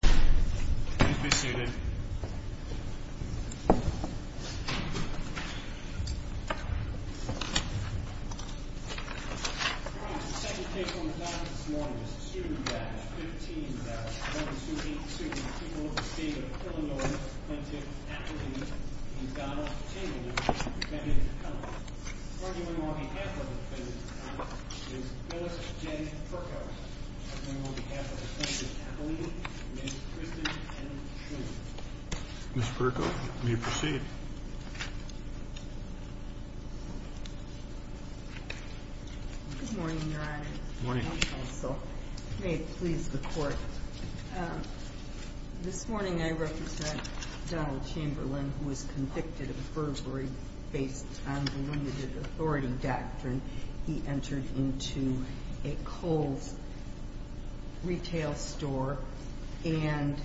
Please be seated. Your Honor, the second case on the docket this morning is the student batch, 15-1282, people of the state of Illinois, Clinton, Appaline, and Donald Chamberlain, men and women of color. The first woman on behalf of the Clinton family is Melissa J. Perkow. The second woman on behalf of the Clinton family is Kristen M. Truman. Ms. Perkow, will you proceed? Good morning, Your Honor. Good morning. May it please the Court, this morning I represent Donald Chamberlain who was convicted of perjury based on the limited authority doctrine. He entered into a Kohl's retail store and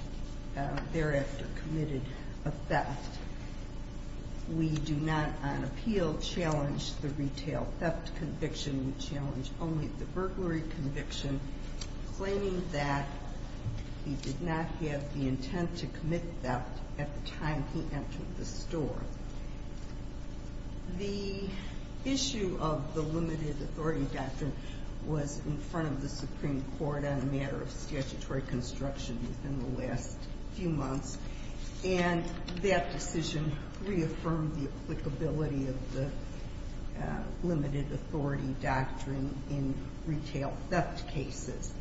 thereafter committed a theft. We do not on appeal challenge the retail theft conviction. We challenge only the burglary conviction claiming that he did not have the intent to commit theft at the time he entered the store. The issue of the limited authority doctrine was in front of the Supreme Court on a matter of statutory construction within the last few months, and that decision reaffirmed the applicability of the limited authority doctrine in retail theft cases.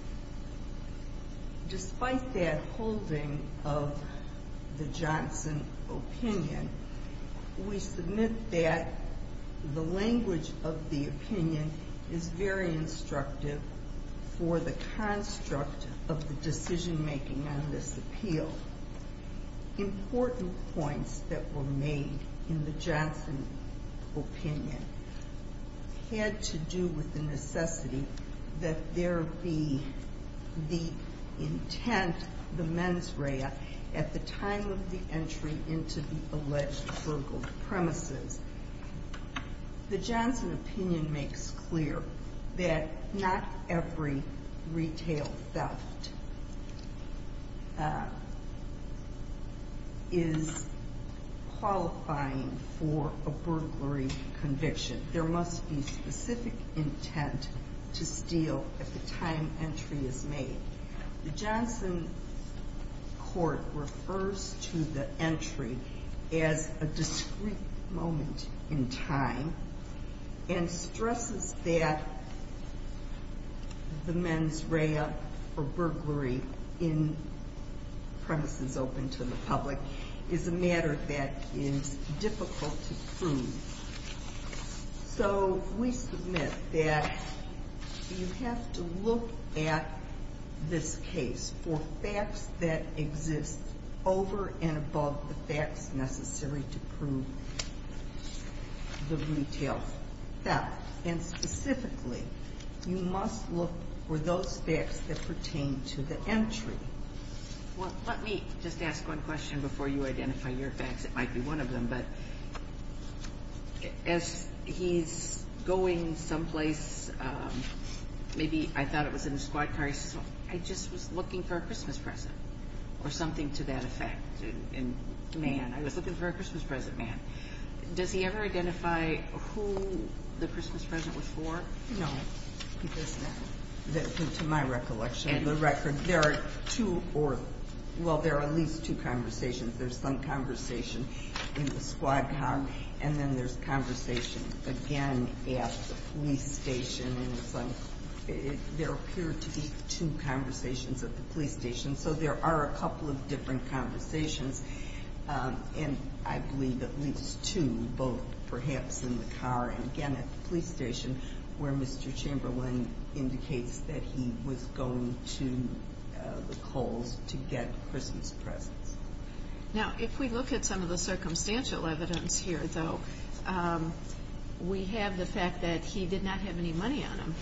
Despite that holding of the Johnson opinion, we submit that the language of the opinion is very instructive for the construct of the decision-making on this appeal. Important points that were made in the Johnson opinion had to do with the necessity that there be the intent, the mens rea, at the time of the entry into the alleged burgled premises. The Johnson opinion makes clear that not every retail theft is qualifying for a burglary conviction. There must be specific intent to steal at the time entry is made. The Johnson court refers to the entry as a discrete moment in time and stresses that the mens rea or burglary in premises open to the public is a matter that is difficult to prove. So we submit that you have to look at this case for facts that exist over and above the facts necessary to prove the retail theft. And specifically, you must look for those facts that pertain to the entry. Well, let me just ask one question before you identify your facts. It might be one of them, but as he's going someplace, maybe I thought it was in a squad car, I just was looking for a Christmas present or something to that effect in man. I was looking for a Christmas present, man. Does he ever identify who the Christmas present was for? No, because to my recollection of the record, there are at least two conversations. There's some conversation in the squad car, and then there's conversation again at the police station. There appear to be two conversations at the police station, so there are a couple of different conversations, and I believe at least two, both perhaps in the car and again at the police station, where Mr. Chamberlain indicates that he was going to the Coles to get Christmas presents. Now, if we look at some of the circumstantial evidence here, though, we have the fact that he did not have any money on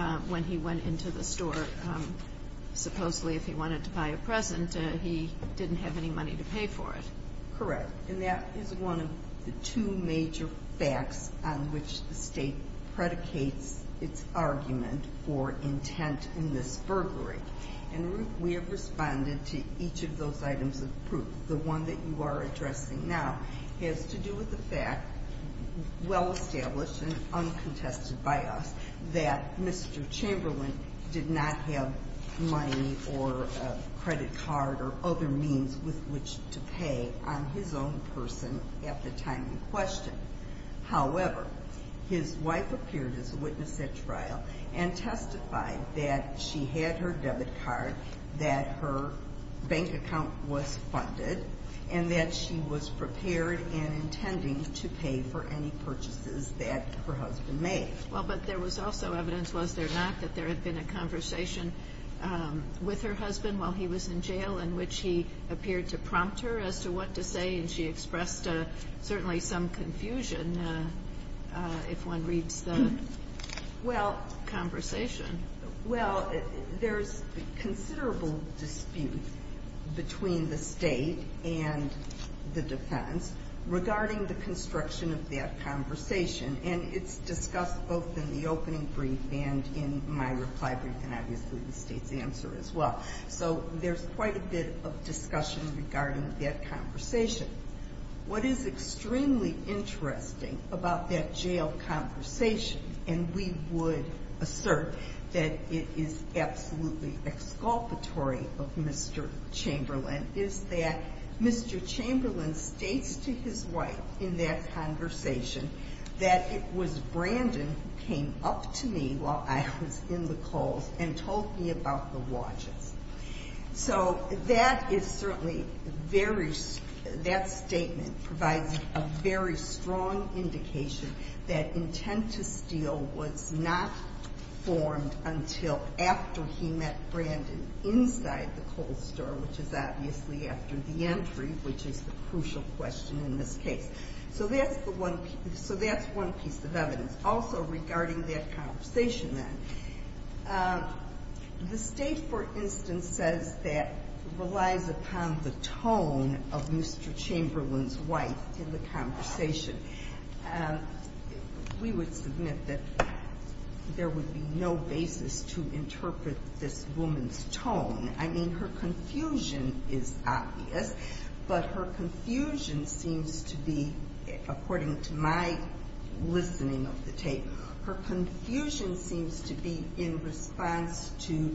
him when he went into the store. Supposedly, if he wanted to buy a present, he didn't have any money to pay for it. Correct, and that is one of the two major facts on which the State predicates its argument or intent in this burglary. And, Ruth, we have responded to each of those items of proof. The one that you are addressing now has to do with the fact, well established and uncontested by us, that Mr. Chamberlain did not have money or a credit card or other means with which to pay on his own person at the time in question. However, his wife appeared as a witness at trial and testified that she had her debit card, that her bank account was funded, and that she was prepared and intending to pay for any purchases that her husband made. Well, but there was also evidence, was there not, that there had been a conversation with her husband while he was in jail in which he appeared to prompt her as to what to say, and she expressed certainly some confusion if one reads the conversation. Well, there's considerable dispute between the State and the defense regarding the construction of that conversation, and it's discussed both in the opening brief and in my reply brief and obviously the State's answer as well. So there's quite a bit of discussion regarding that conversation. What is extremely interesting about that jail conversation, and we would assert that it is absolutely exculpatory of Mr. Chamberlain, is that Mr. Chamberlain states to his wife in that conversation that it was Brandon who came up to me while I was in the coals and told me about the watches. So that is certainly very – that statement provides a very strong indication that intent to steal was not formed until after he met Brandon inside the coal store, which is obviously after the entry, which is the crucial question in this case. So that's the one – so that's one piece of evidence. Also regarding that conversation then, the State, for instance, says that it relies upon the tone of Mr. Chamberlain's wife in the conversation. We would submit that there would be no basis to interpret this woman's tone. I mean, her confusion is obvious, but her confusion seems to be, according to my listening of the tape, her confusion seems to be in response to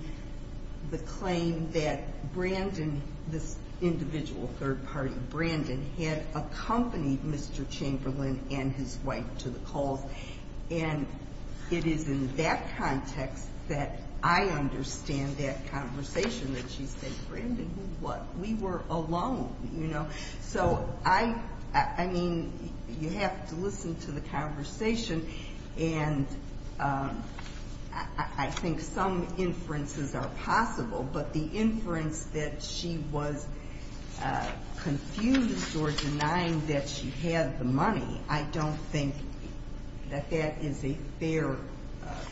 the claim that Brandon, this individual third party, Brandon, had accompanied Mr. Chamberlain and his wife to the coals. And it is in that context that I understand that conversation that she said, Brandon, who what? We were alone, you know. So I mean, you have to listen to the conversation, and I think some inferences are possible, but the inference that she was confused or denying that she had the money, I don't think that that is a fair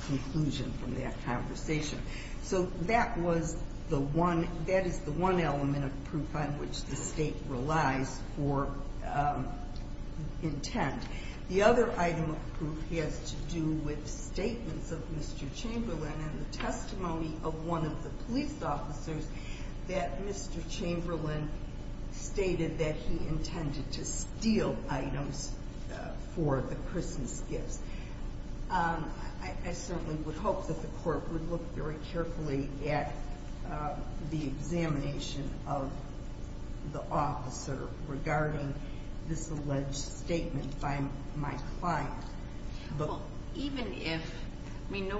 conclusion from that conversation. So that was the one – that is the one element of proof on which the State relies for intent. The other item of proof has to do with statements of Mr. Chamberlain and the testimony of one of the police officers that Mr. Chamberlain stated that he intended to steal items for the Christmas gifts. I certainly would hope that the court would look very carefully at the examination of the officer regarding this alleged statement by my client. Even if – I mean,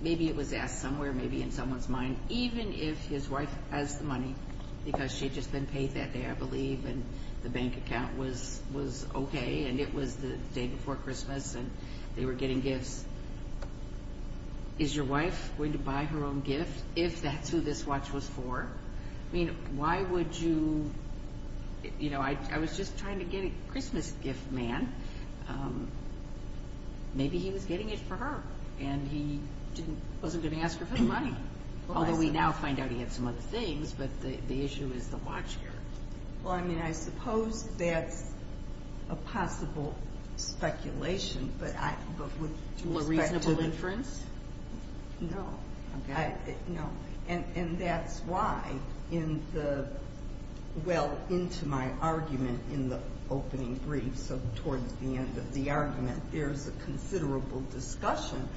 maybe it was asked somewhere, maybe in someone's mind. Even if his wife has the money because she had just been paid that day, I believe, and the bank account was okay and it was the day before Christmas and they were getting gifts, is your wife going to buy her own gift if that's who this watch was for? I mean, why would you – you know, I was just trying to get a Christmas gift, man. Maybe he was getting it for her and he wasn't going to ask her for the money, although we now find out he had some other things, but the issue is the watch here. Well, I mean, I suppose that's a possible speculation, but with respect to the – To a reasonable inference? No. Okay. And that's why in the – well, into my argument in the opening brief, so towards the end of the argument, there's a considerable discussion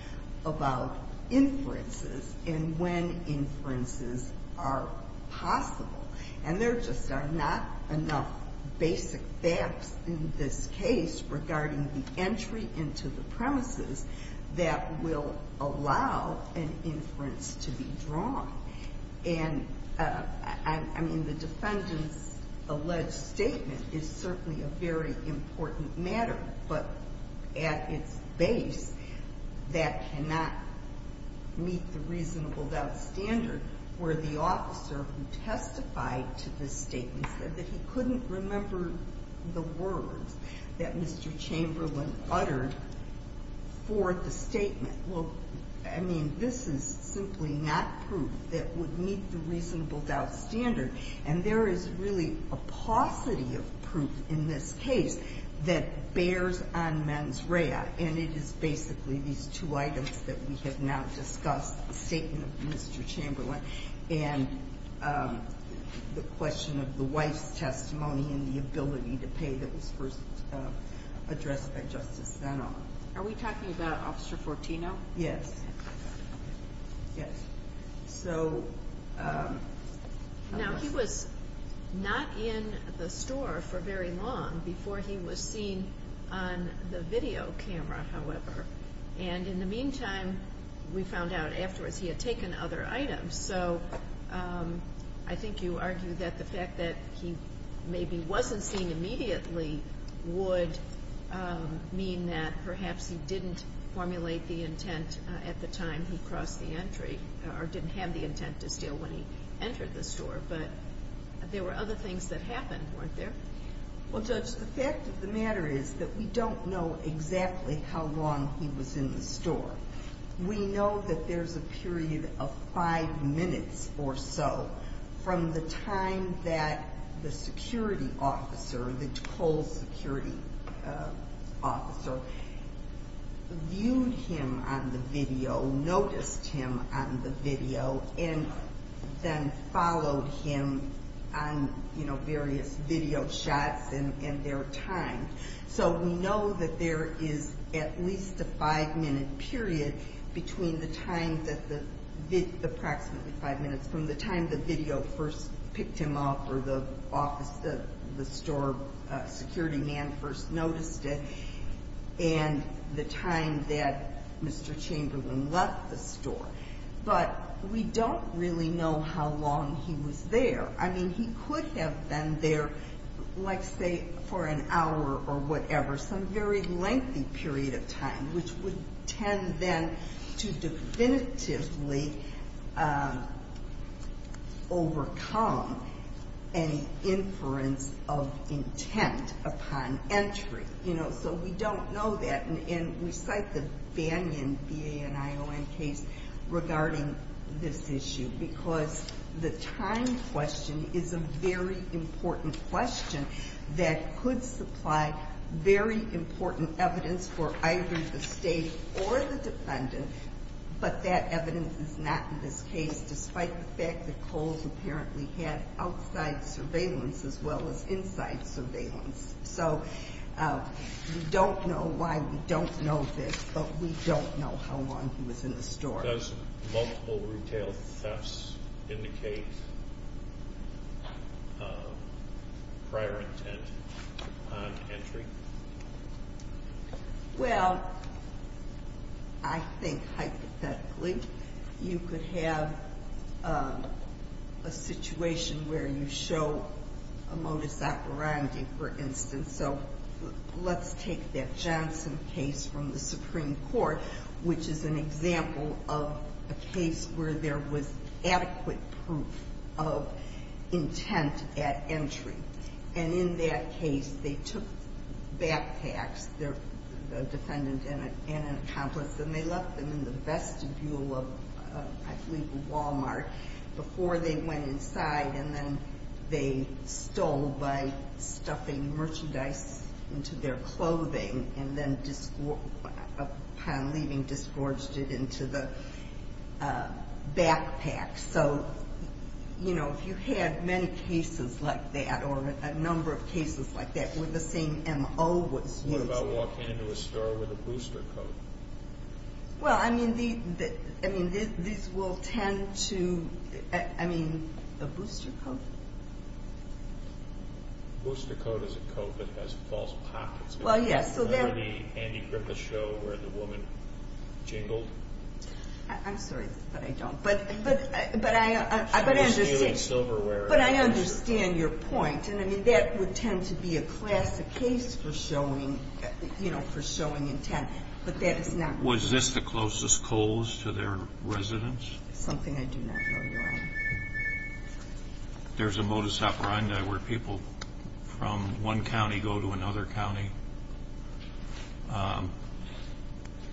about inferences and when inferences are possible. And there just are not enough basic facts in this case regarding the entry into the premises that will allow an inference to be drawn. And, I mean, the defendant's alleged statement is certainly a very important matter, but at its base that cannot meet the reasonable doubt standard where the officer who testified to this statement said that he couldn't remember the words that Mr. Chamberlain uttered for the statement. Well, I mean, this is simply not proof that would meet the reasonable doubt standard, and there is really a paucity of proof in this case that bears on mens rea, and it is basically these two items that we have now discussed, the statement of Mr. Chamberlain and the question of the wife's testimony and the ability to pay that was first addressed by Justice Zenon. Are we talking about Officer Fortino? Yes. Yes. So – Now, he was not in the store for very long before he was seen on the video camera, however, and in the meantime we found out afterwards he had taken other items, so I think you argue that the fact that he maybe wasn't seen immediately would mean that perhaps he didn't formulate the intent at the time he crossed the entry or didn't have the intent to steal when he entered the store, but there were other things that happened, weren't there? Well, Judge, the fact of the matter is that we don't know exactly how long he was in the store. We know that there's a period of five minutes or so from the time that the security officer, the toll security officer, viewed him on the video, noticed him on the video, and then followed him on various video shots and their time. So we know that there is at least a five-minute period between the time that the – approximately five minutes from the time the video first picked him up or the office, the store security man first noticed it and the time that Mr. Chamberlain left the store. But we don't really know how long he was there. I mean, he could have been there, like, say, for an hour or whatever, some very lengthy period of time, which would tend then to definitively overcome an inference of intent upon entry, you know, so we don't know that. And we cite the Banyan VA and ION case regarding this issue because the time question is a very important question that could supply very important evidence for either the state or the defendant, but that evidence is not in this case, despite the fact that Kohl's apparently had outside surveillance as well as inside surveillance. So we don't know why we don't know this, but we don't know how long he was in the store. Does multiple retail thefts indicate prior intent upon entry? Well, I think hypothetically you could have a situation where you show a modus operandi, for instance. So let's take that Johnson case from the Supreme Court, which is an example of a case where there was adequate proof of intent at entry. And in that case, they took backpacks, the defendant and an accomplice, and they left them in the vestibule of, I believe, a Walmart before they went inside and then they stole by stuffing merchandise into their clothing and then, upon leaving, disgorged it into the backpack. So if you had many cases like that or a number of cases like that where the same MO was used. What about walking into a store with a booster coat? Well, I mean, these will tend to, I mean, a booster coat? A booster coat is a coat that has false pockets. Well, yes. Remember the Andy Griffith show where the woman jingled? I'm sorry, but I don't. But I understand your point, and I mean, that would tend to be a classic case for showing intent. Was this the closest Coles to their residence? Something I do not know, Your Honor. There's a modus operandi where people from one county go to another county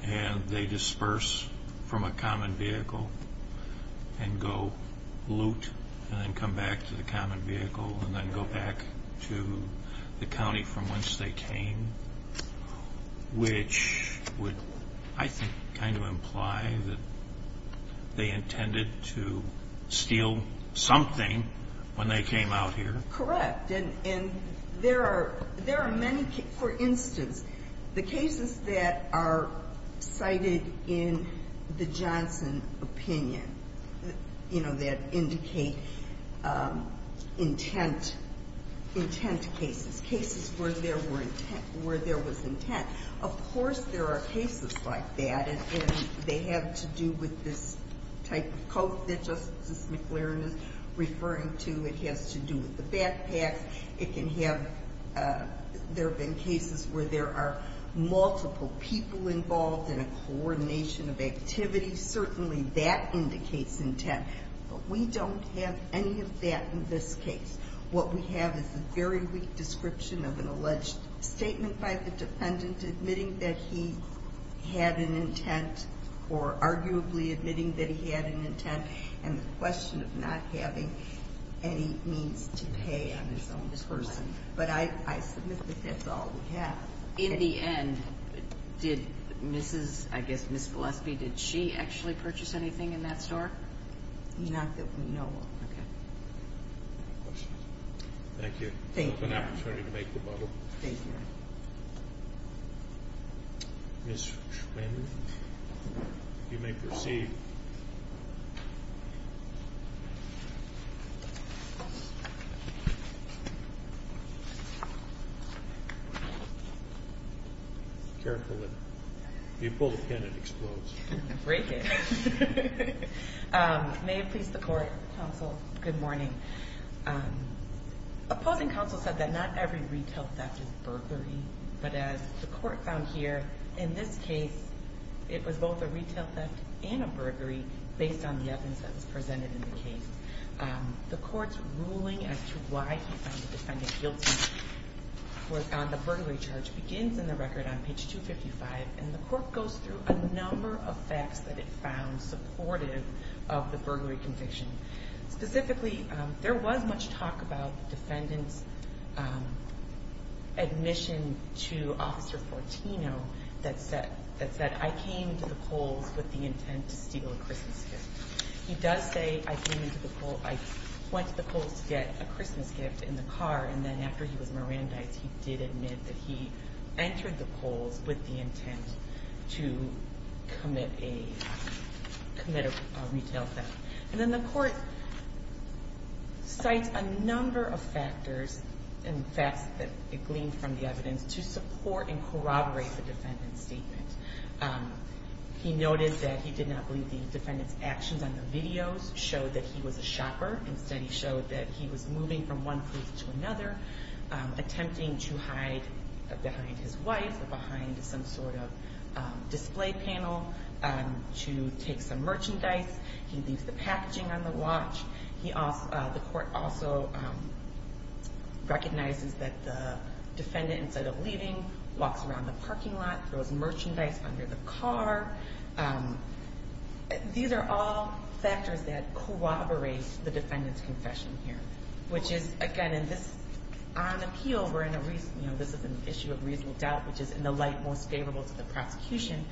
and they disperse from a common vehicle and go loot and then come back to the common vehicle and then go back to the county from whence they came, which would, I think, kind of imply that they intended to steal something when they came out here. Correct. And there are many, for instance, the cases that are cited in the Johnson opinion, you know, that indicate intent cases, cases where there was intent. Of course, there are cases like that, and they have to do with this type of coat that Justice McLaren is referring to. It has to do with the backpacks. It can have, there have been cases where there are multiple people involved in a coordination of activity. Certainly, that indicates intent, but we don't have any of that in this case. What we have is a very weak description of an alleged statement by the defendant admitting that he had an intent or arguably admitting that he had an intent and the question of not having any means to pay on his own person. But I submit that that's all we have. In the end, did Mrs., I guess Ms. Gillespie, did she actually purchase anything in that store? Not that we know of. Okay. Any questions? Thank you. Thank you. It was an opportunity to make the bubble. Thank you. Ms. Schwander, you may proceed. Carefully. If you pull the pin, it explodes. Break it. May it please the court, counsel, good morning. Opposing counsel said that not every retail theft is burglary, but as the court found here, in this case, it was both a retail theft and a burglary based on the evidence that was presented in the case. The court's ruling as to why he found the defendant guilty on the burglary charge begins in the record on page 255 and the court goes through a number of facts that it found supportive of the burglary conviction. Specifically, there was much talk about the defendant's admission to Officer Fortino that said, I came to the polls with the intent to steal a Christmas gift. He does say, I went to the polls to get a Christmas gift in the car, and then after he was Mirandized, he did admit that he entered the polls with the intent to commit a retail theft. And then the court cites a number of factors and facts that it gleaned from the evidence to support and corroborate the defendant's statement. He noted that he did not believe the defendant's actions on the videos showed that he was a shopper. Instead, he showed that he was moving from one place to another, attempting to hide behind his wife or behind some sort of display panel to take some merchandise. He leaves the packaging on the watch. The court also recognizes that the defendant, instead of leaving, walks around the parking lot, throws merchandise under the car. These are all factors that corroborate the defendant's confession here, which is, again, on appeal, this is an issue of reasonable doubt, which is in the light most favorable to the prosecution.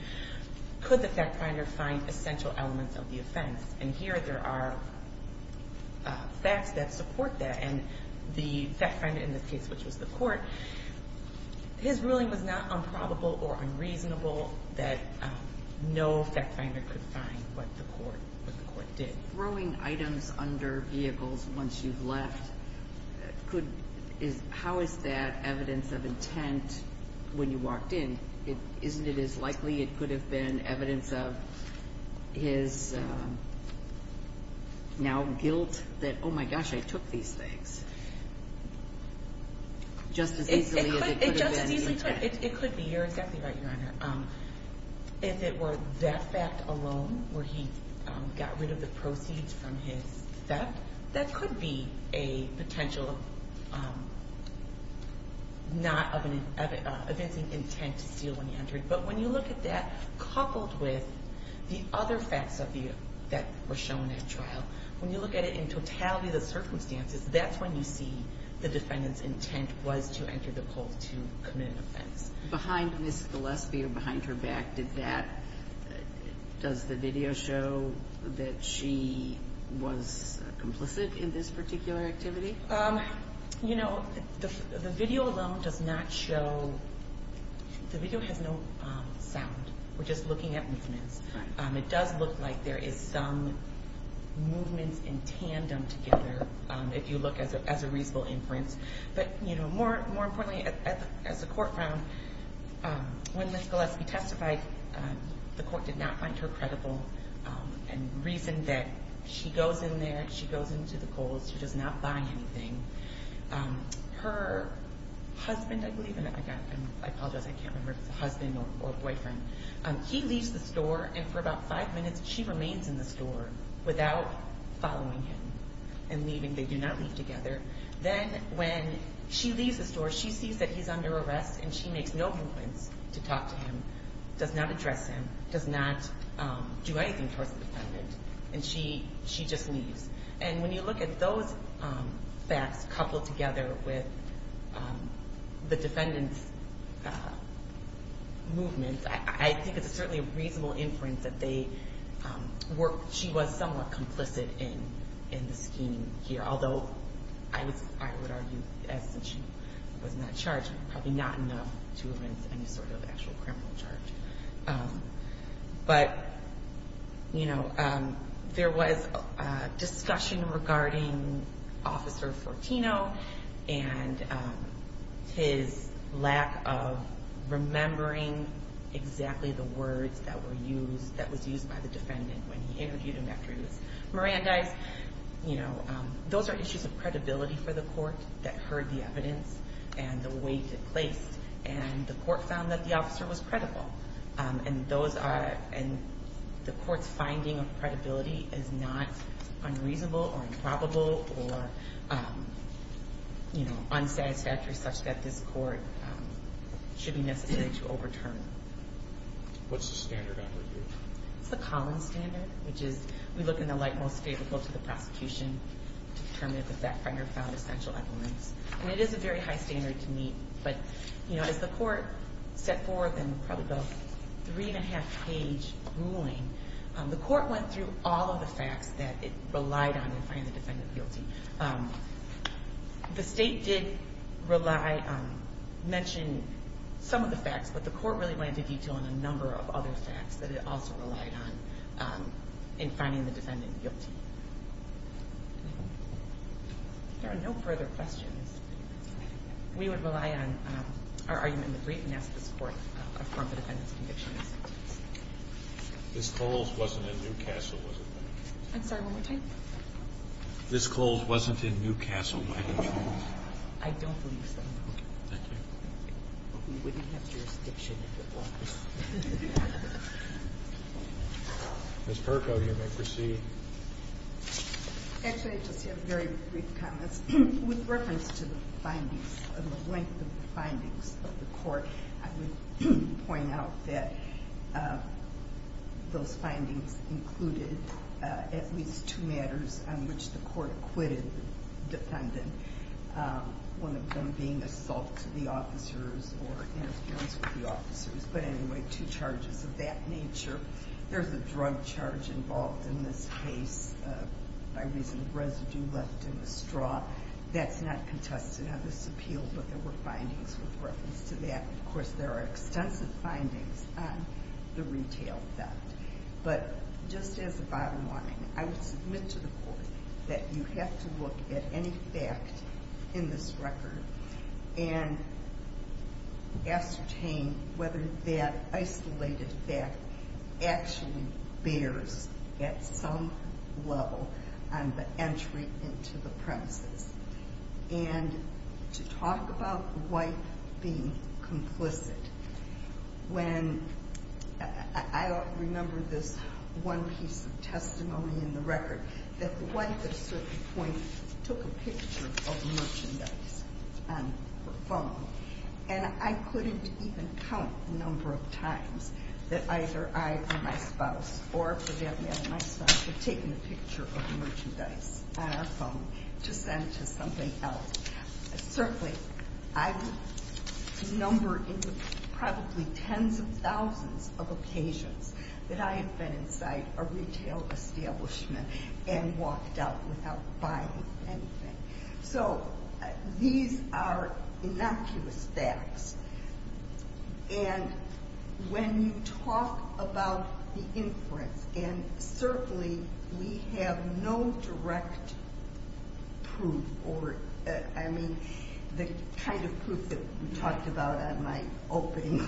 Could the fact finder find essential elements of the offense? And here there are facts that support that. And the fact finder in this case, which was the court, his ruling was not unprobable or unreasonable that no fact finder could find what the court did. Throwing items under vehicles once you've left, how is that evidence of intent when you walked in? Isn't it as likely it could have been evidence of his now guilt that, oh, my gosh, I took these things? Just as easily as it could have been intent. It could be. You're exactly right, Your Honor. If it were that fact alone where he got rid of the proceeds from his theft, that could be a potential not of evidence of intent to steal when he entered. But when you look at that coupled with the other facts that were shown at trial, when you look at it in totality of the circumstances, that's when you see the defendant's intent was to enter the cold to commit an offense. Behind Ms. Gillespie or behind her back, does the video show that she was complicit in this particular activity? You know, the video alone does not show, the video has no sound. We're just looking at movements. It does look like there is some movements in tandem together, if you look as a reasonable inference. But, you know, more importantly, as the court found, when Ms. Gillespie testified, the court did not find her credible and reasoned that she goes in there, she goes into the cold, she does not buy anything. Her husband, I believe, I apologize, I can't remember if it's a husband or boyfriend, he leaves the store and for about five minutes she remains in the store without following him and leaving. They do not leave together. Then when she leaves the store, she sees that he's under arrest and she makes no movements to talk to him, does not address him, does not do anything towards the defendant, and she just leaves. And when you look at those facts coupled together with the defendant's movements, I think it's certainly a reasonable inference that she was somewhat complicit in the scheme here. Although, I would argue, since she was not charged, probably not enough to have been any sort of actual criminal charge. But, you know, there was discussion regarding Officer Fortino and his lack of remembering exactly the words that were used, by the defendant when he interviewed him after he was Mirandized. You know, those are issues of credibility for the court that heard the evidence and the weight it placed. And the court found that the officer was credible. And the court's finding of credibility is not unreasonable or improbable or, you know, unsatisfactory such that this court should be necessary to overturn. What's the standard on review? It's the Collins standard, which is we look in the light most favorable to the prosecution to determine if the fact finder found essential evidence. And it is a very high standard to meet. But, you know, as the court set forth in probably the three-and-a-half-page ruling, the court went through all of the facts that it relied on in finding the defendant guilty. The state did mention some of the facts, but the court really went into detail on a number of other facts that it also relied on in finding the defendant guilty. If there are no further questions, we would rely on our argument in the brief and ask this court to affirm the defendant's conviction. Ms. Coles wasn't in Newcastle, was she? I'm sorry, one more time. Ms. Coles wasn't in Newcastle, was she? I don't believe so, no. Thank you. We wouldn't have jurisdiction if it wasn't. Ms. Perko, you may proceed. Actually, I just have very brief comments. With reference to the findings and the length of the findings of the court, I would point out that those findings included at least two matters on which the court acquitted the defendant, one of them being assault to the officers or interference with the officers. But anyway, two charges of that nature. There's a drug charge involved in this case by reason of residue left in the straw. That's not contested on this appeal, but there were findings with reference to that. Of course, there are extensive findings on the retail theft. But just as a bottom line, I would submit to the court that you have to look at any fact in this record and ascertain whether that isolated fact actually bears at some level on the entry into the premises. And to talk about the wife being complicit, when I remember this one piece of testimony in the record, that the wife at a certain point took a picture of merchandise on her phone. And I couldn't even count the number of times that either I or my spouse or the man or my spouse had taken a picture of merchandise on our phone to send to something else. Certainly, I would number into probably tens of thousands of occasions that I have been inside a retail establishment and walked out without buying anything. So these are innocuous facts. And when you talk about the inference, and certainly we have no direct proof or, I mean, the kind of proof that we talked about in my opening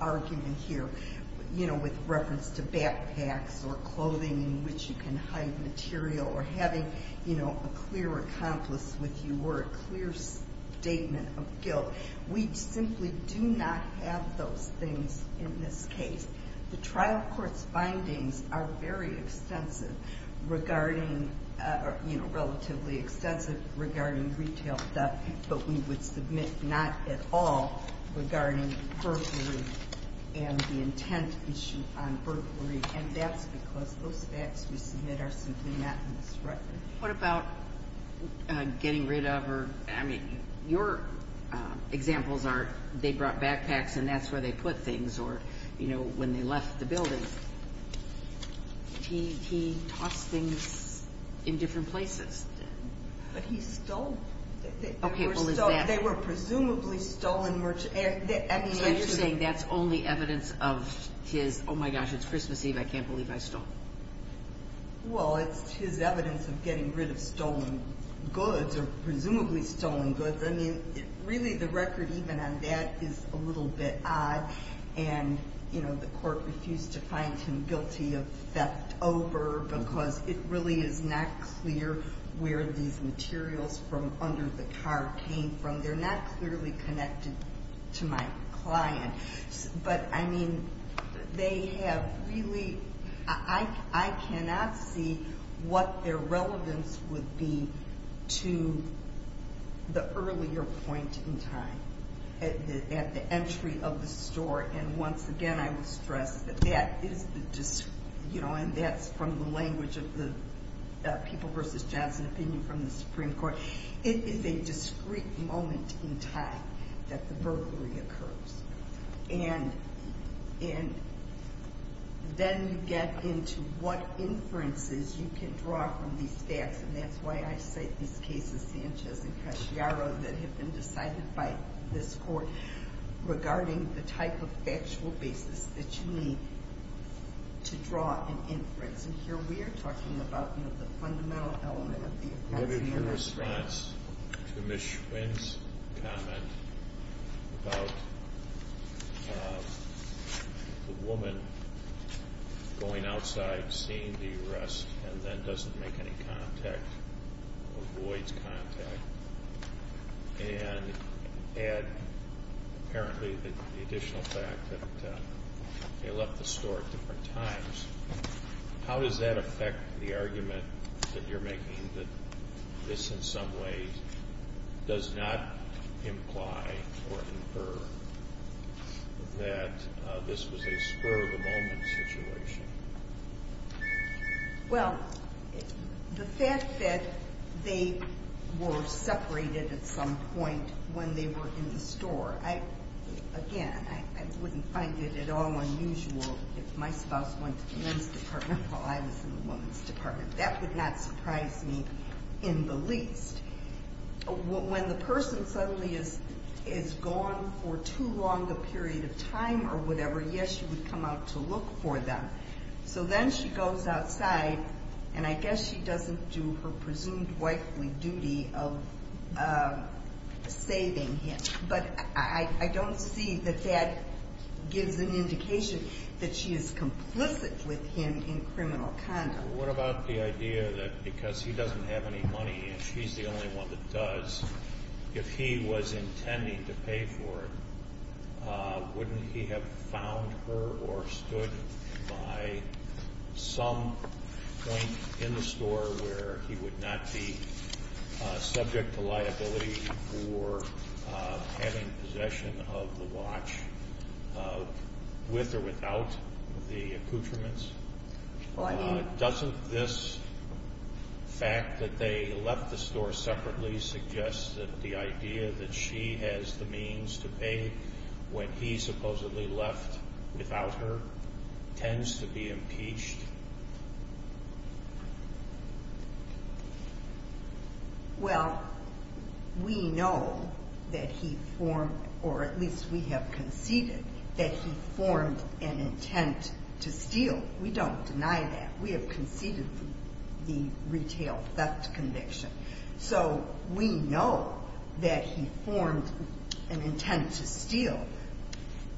argument here, you know, with reference to backpacks or clothing in which you can hide material or having, you know, a clear accomplice with you or a clear statement of guilt, we simply do not have those things in this case. The trial court's findings are very extensive regarding, you know, relatively extensive regarding retail backpacks, but we would submit not at all regarding burglary and the intent issue on burglary. And that's because those facts we submit are simply not in this record. What about getting rid of or, I mean, your examples are they brought backpacks and that's where they put things or, you know, when they left the building, he tossed things in different places. But he stole. Okay. They were presumably stolen merchandise. So you're saying that's only evidence of his, oh, my gosh, it's Christmas Eve, I can't believe I stole. Well, it's his evidence of getting rid of stolen goods or presumably stolen goods. I mean, really the record even on that is a little bit odd. And, you know, the court refused to find him guilty of theft over because it really is not clear where these materials from under the car came from. They're not clearly connected to my client. But, I mean, they have really, I cannot see what their relevance would be to the earlier point in time at the entry of the store. And, once again, I would stress that that is the, you know, and that's from the language of the People v. Johnson opinion from the Supreme Court. It is a discrete moment in time that the burglary occurs. And then you get into what inferences you can draw from these stats. And that's why I cite these cases, Sanchez and Casciaro, that have been decided by this court regarding the type of factual basis that you need to draw an inference. And here we are talking about, you know, the fundamental element of the appalling arrest. What is your response to Ms. Schwinn's comment about the woman going outside seeing the arrest and then doesn't make any contact, avoids contact, and add apparently the additional fact that they left the store at different times? How does that affect the argument that you're making, that this in some ways does not imply or infer that this was a spur-of-the-moment situation? Well, the fact that they were separated at some point when they were in the store, again, I wouldn't find it at all unusual if my spouse went to the men's department while I was in the women's department. That would not surprise me in the least. When the person suddenly is gone for too long a period of time or whatever, yes, you would come out to look for them. So then she goes outside, and I guess she doesn't do her presumed wifely duty of saving him. But I don't see that that gives an indication that she is complicit with him in criminal conduct. What about the idea that because he doesn't have any money and she's the only one that does, if he was intending to pay for it, wouldn't he have found her or stood by some point in the store where he would not be subject to liability for having possession of the watch with or without the accoutrements? Doesn't this fact that they left the store separately suggest that the idea that she has the means to pay when he supposedly left without her tends to be impeached? Well, we know that he formed, or at least we have conceded, that he formed an intent to steal. We don't deny that. We have conceded the retail theft conviction. So we know that he formed an intent to steal.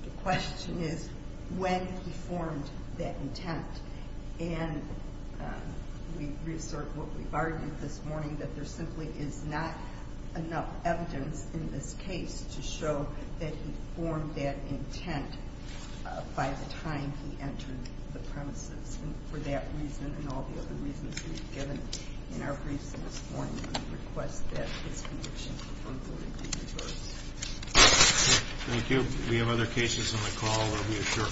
The question is when he formed that intent. And we assert what we argued this morning, that there simply is not enough evidence in this case to show that he formed that intent by the time he entered the premises. And for that reason and all the other reasons we've given in our briefs this morning, we request that his conviction be confirmed for review first. Thank you. We have other cases on the call.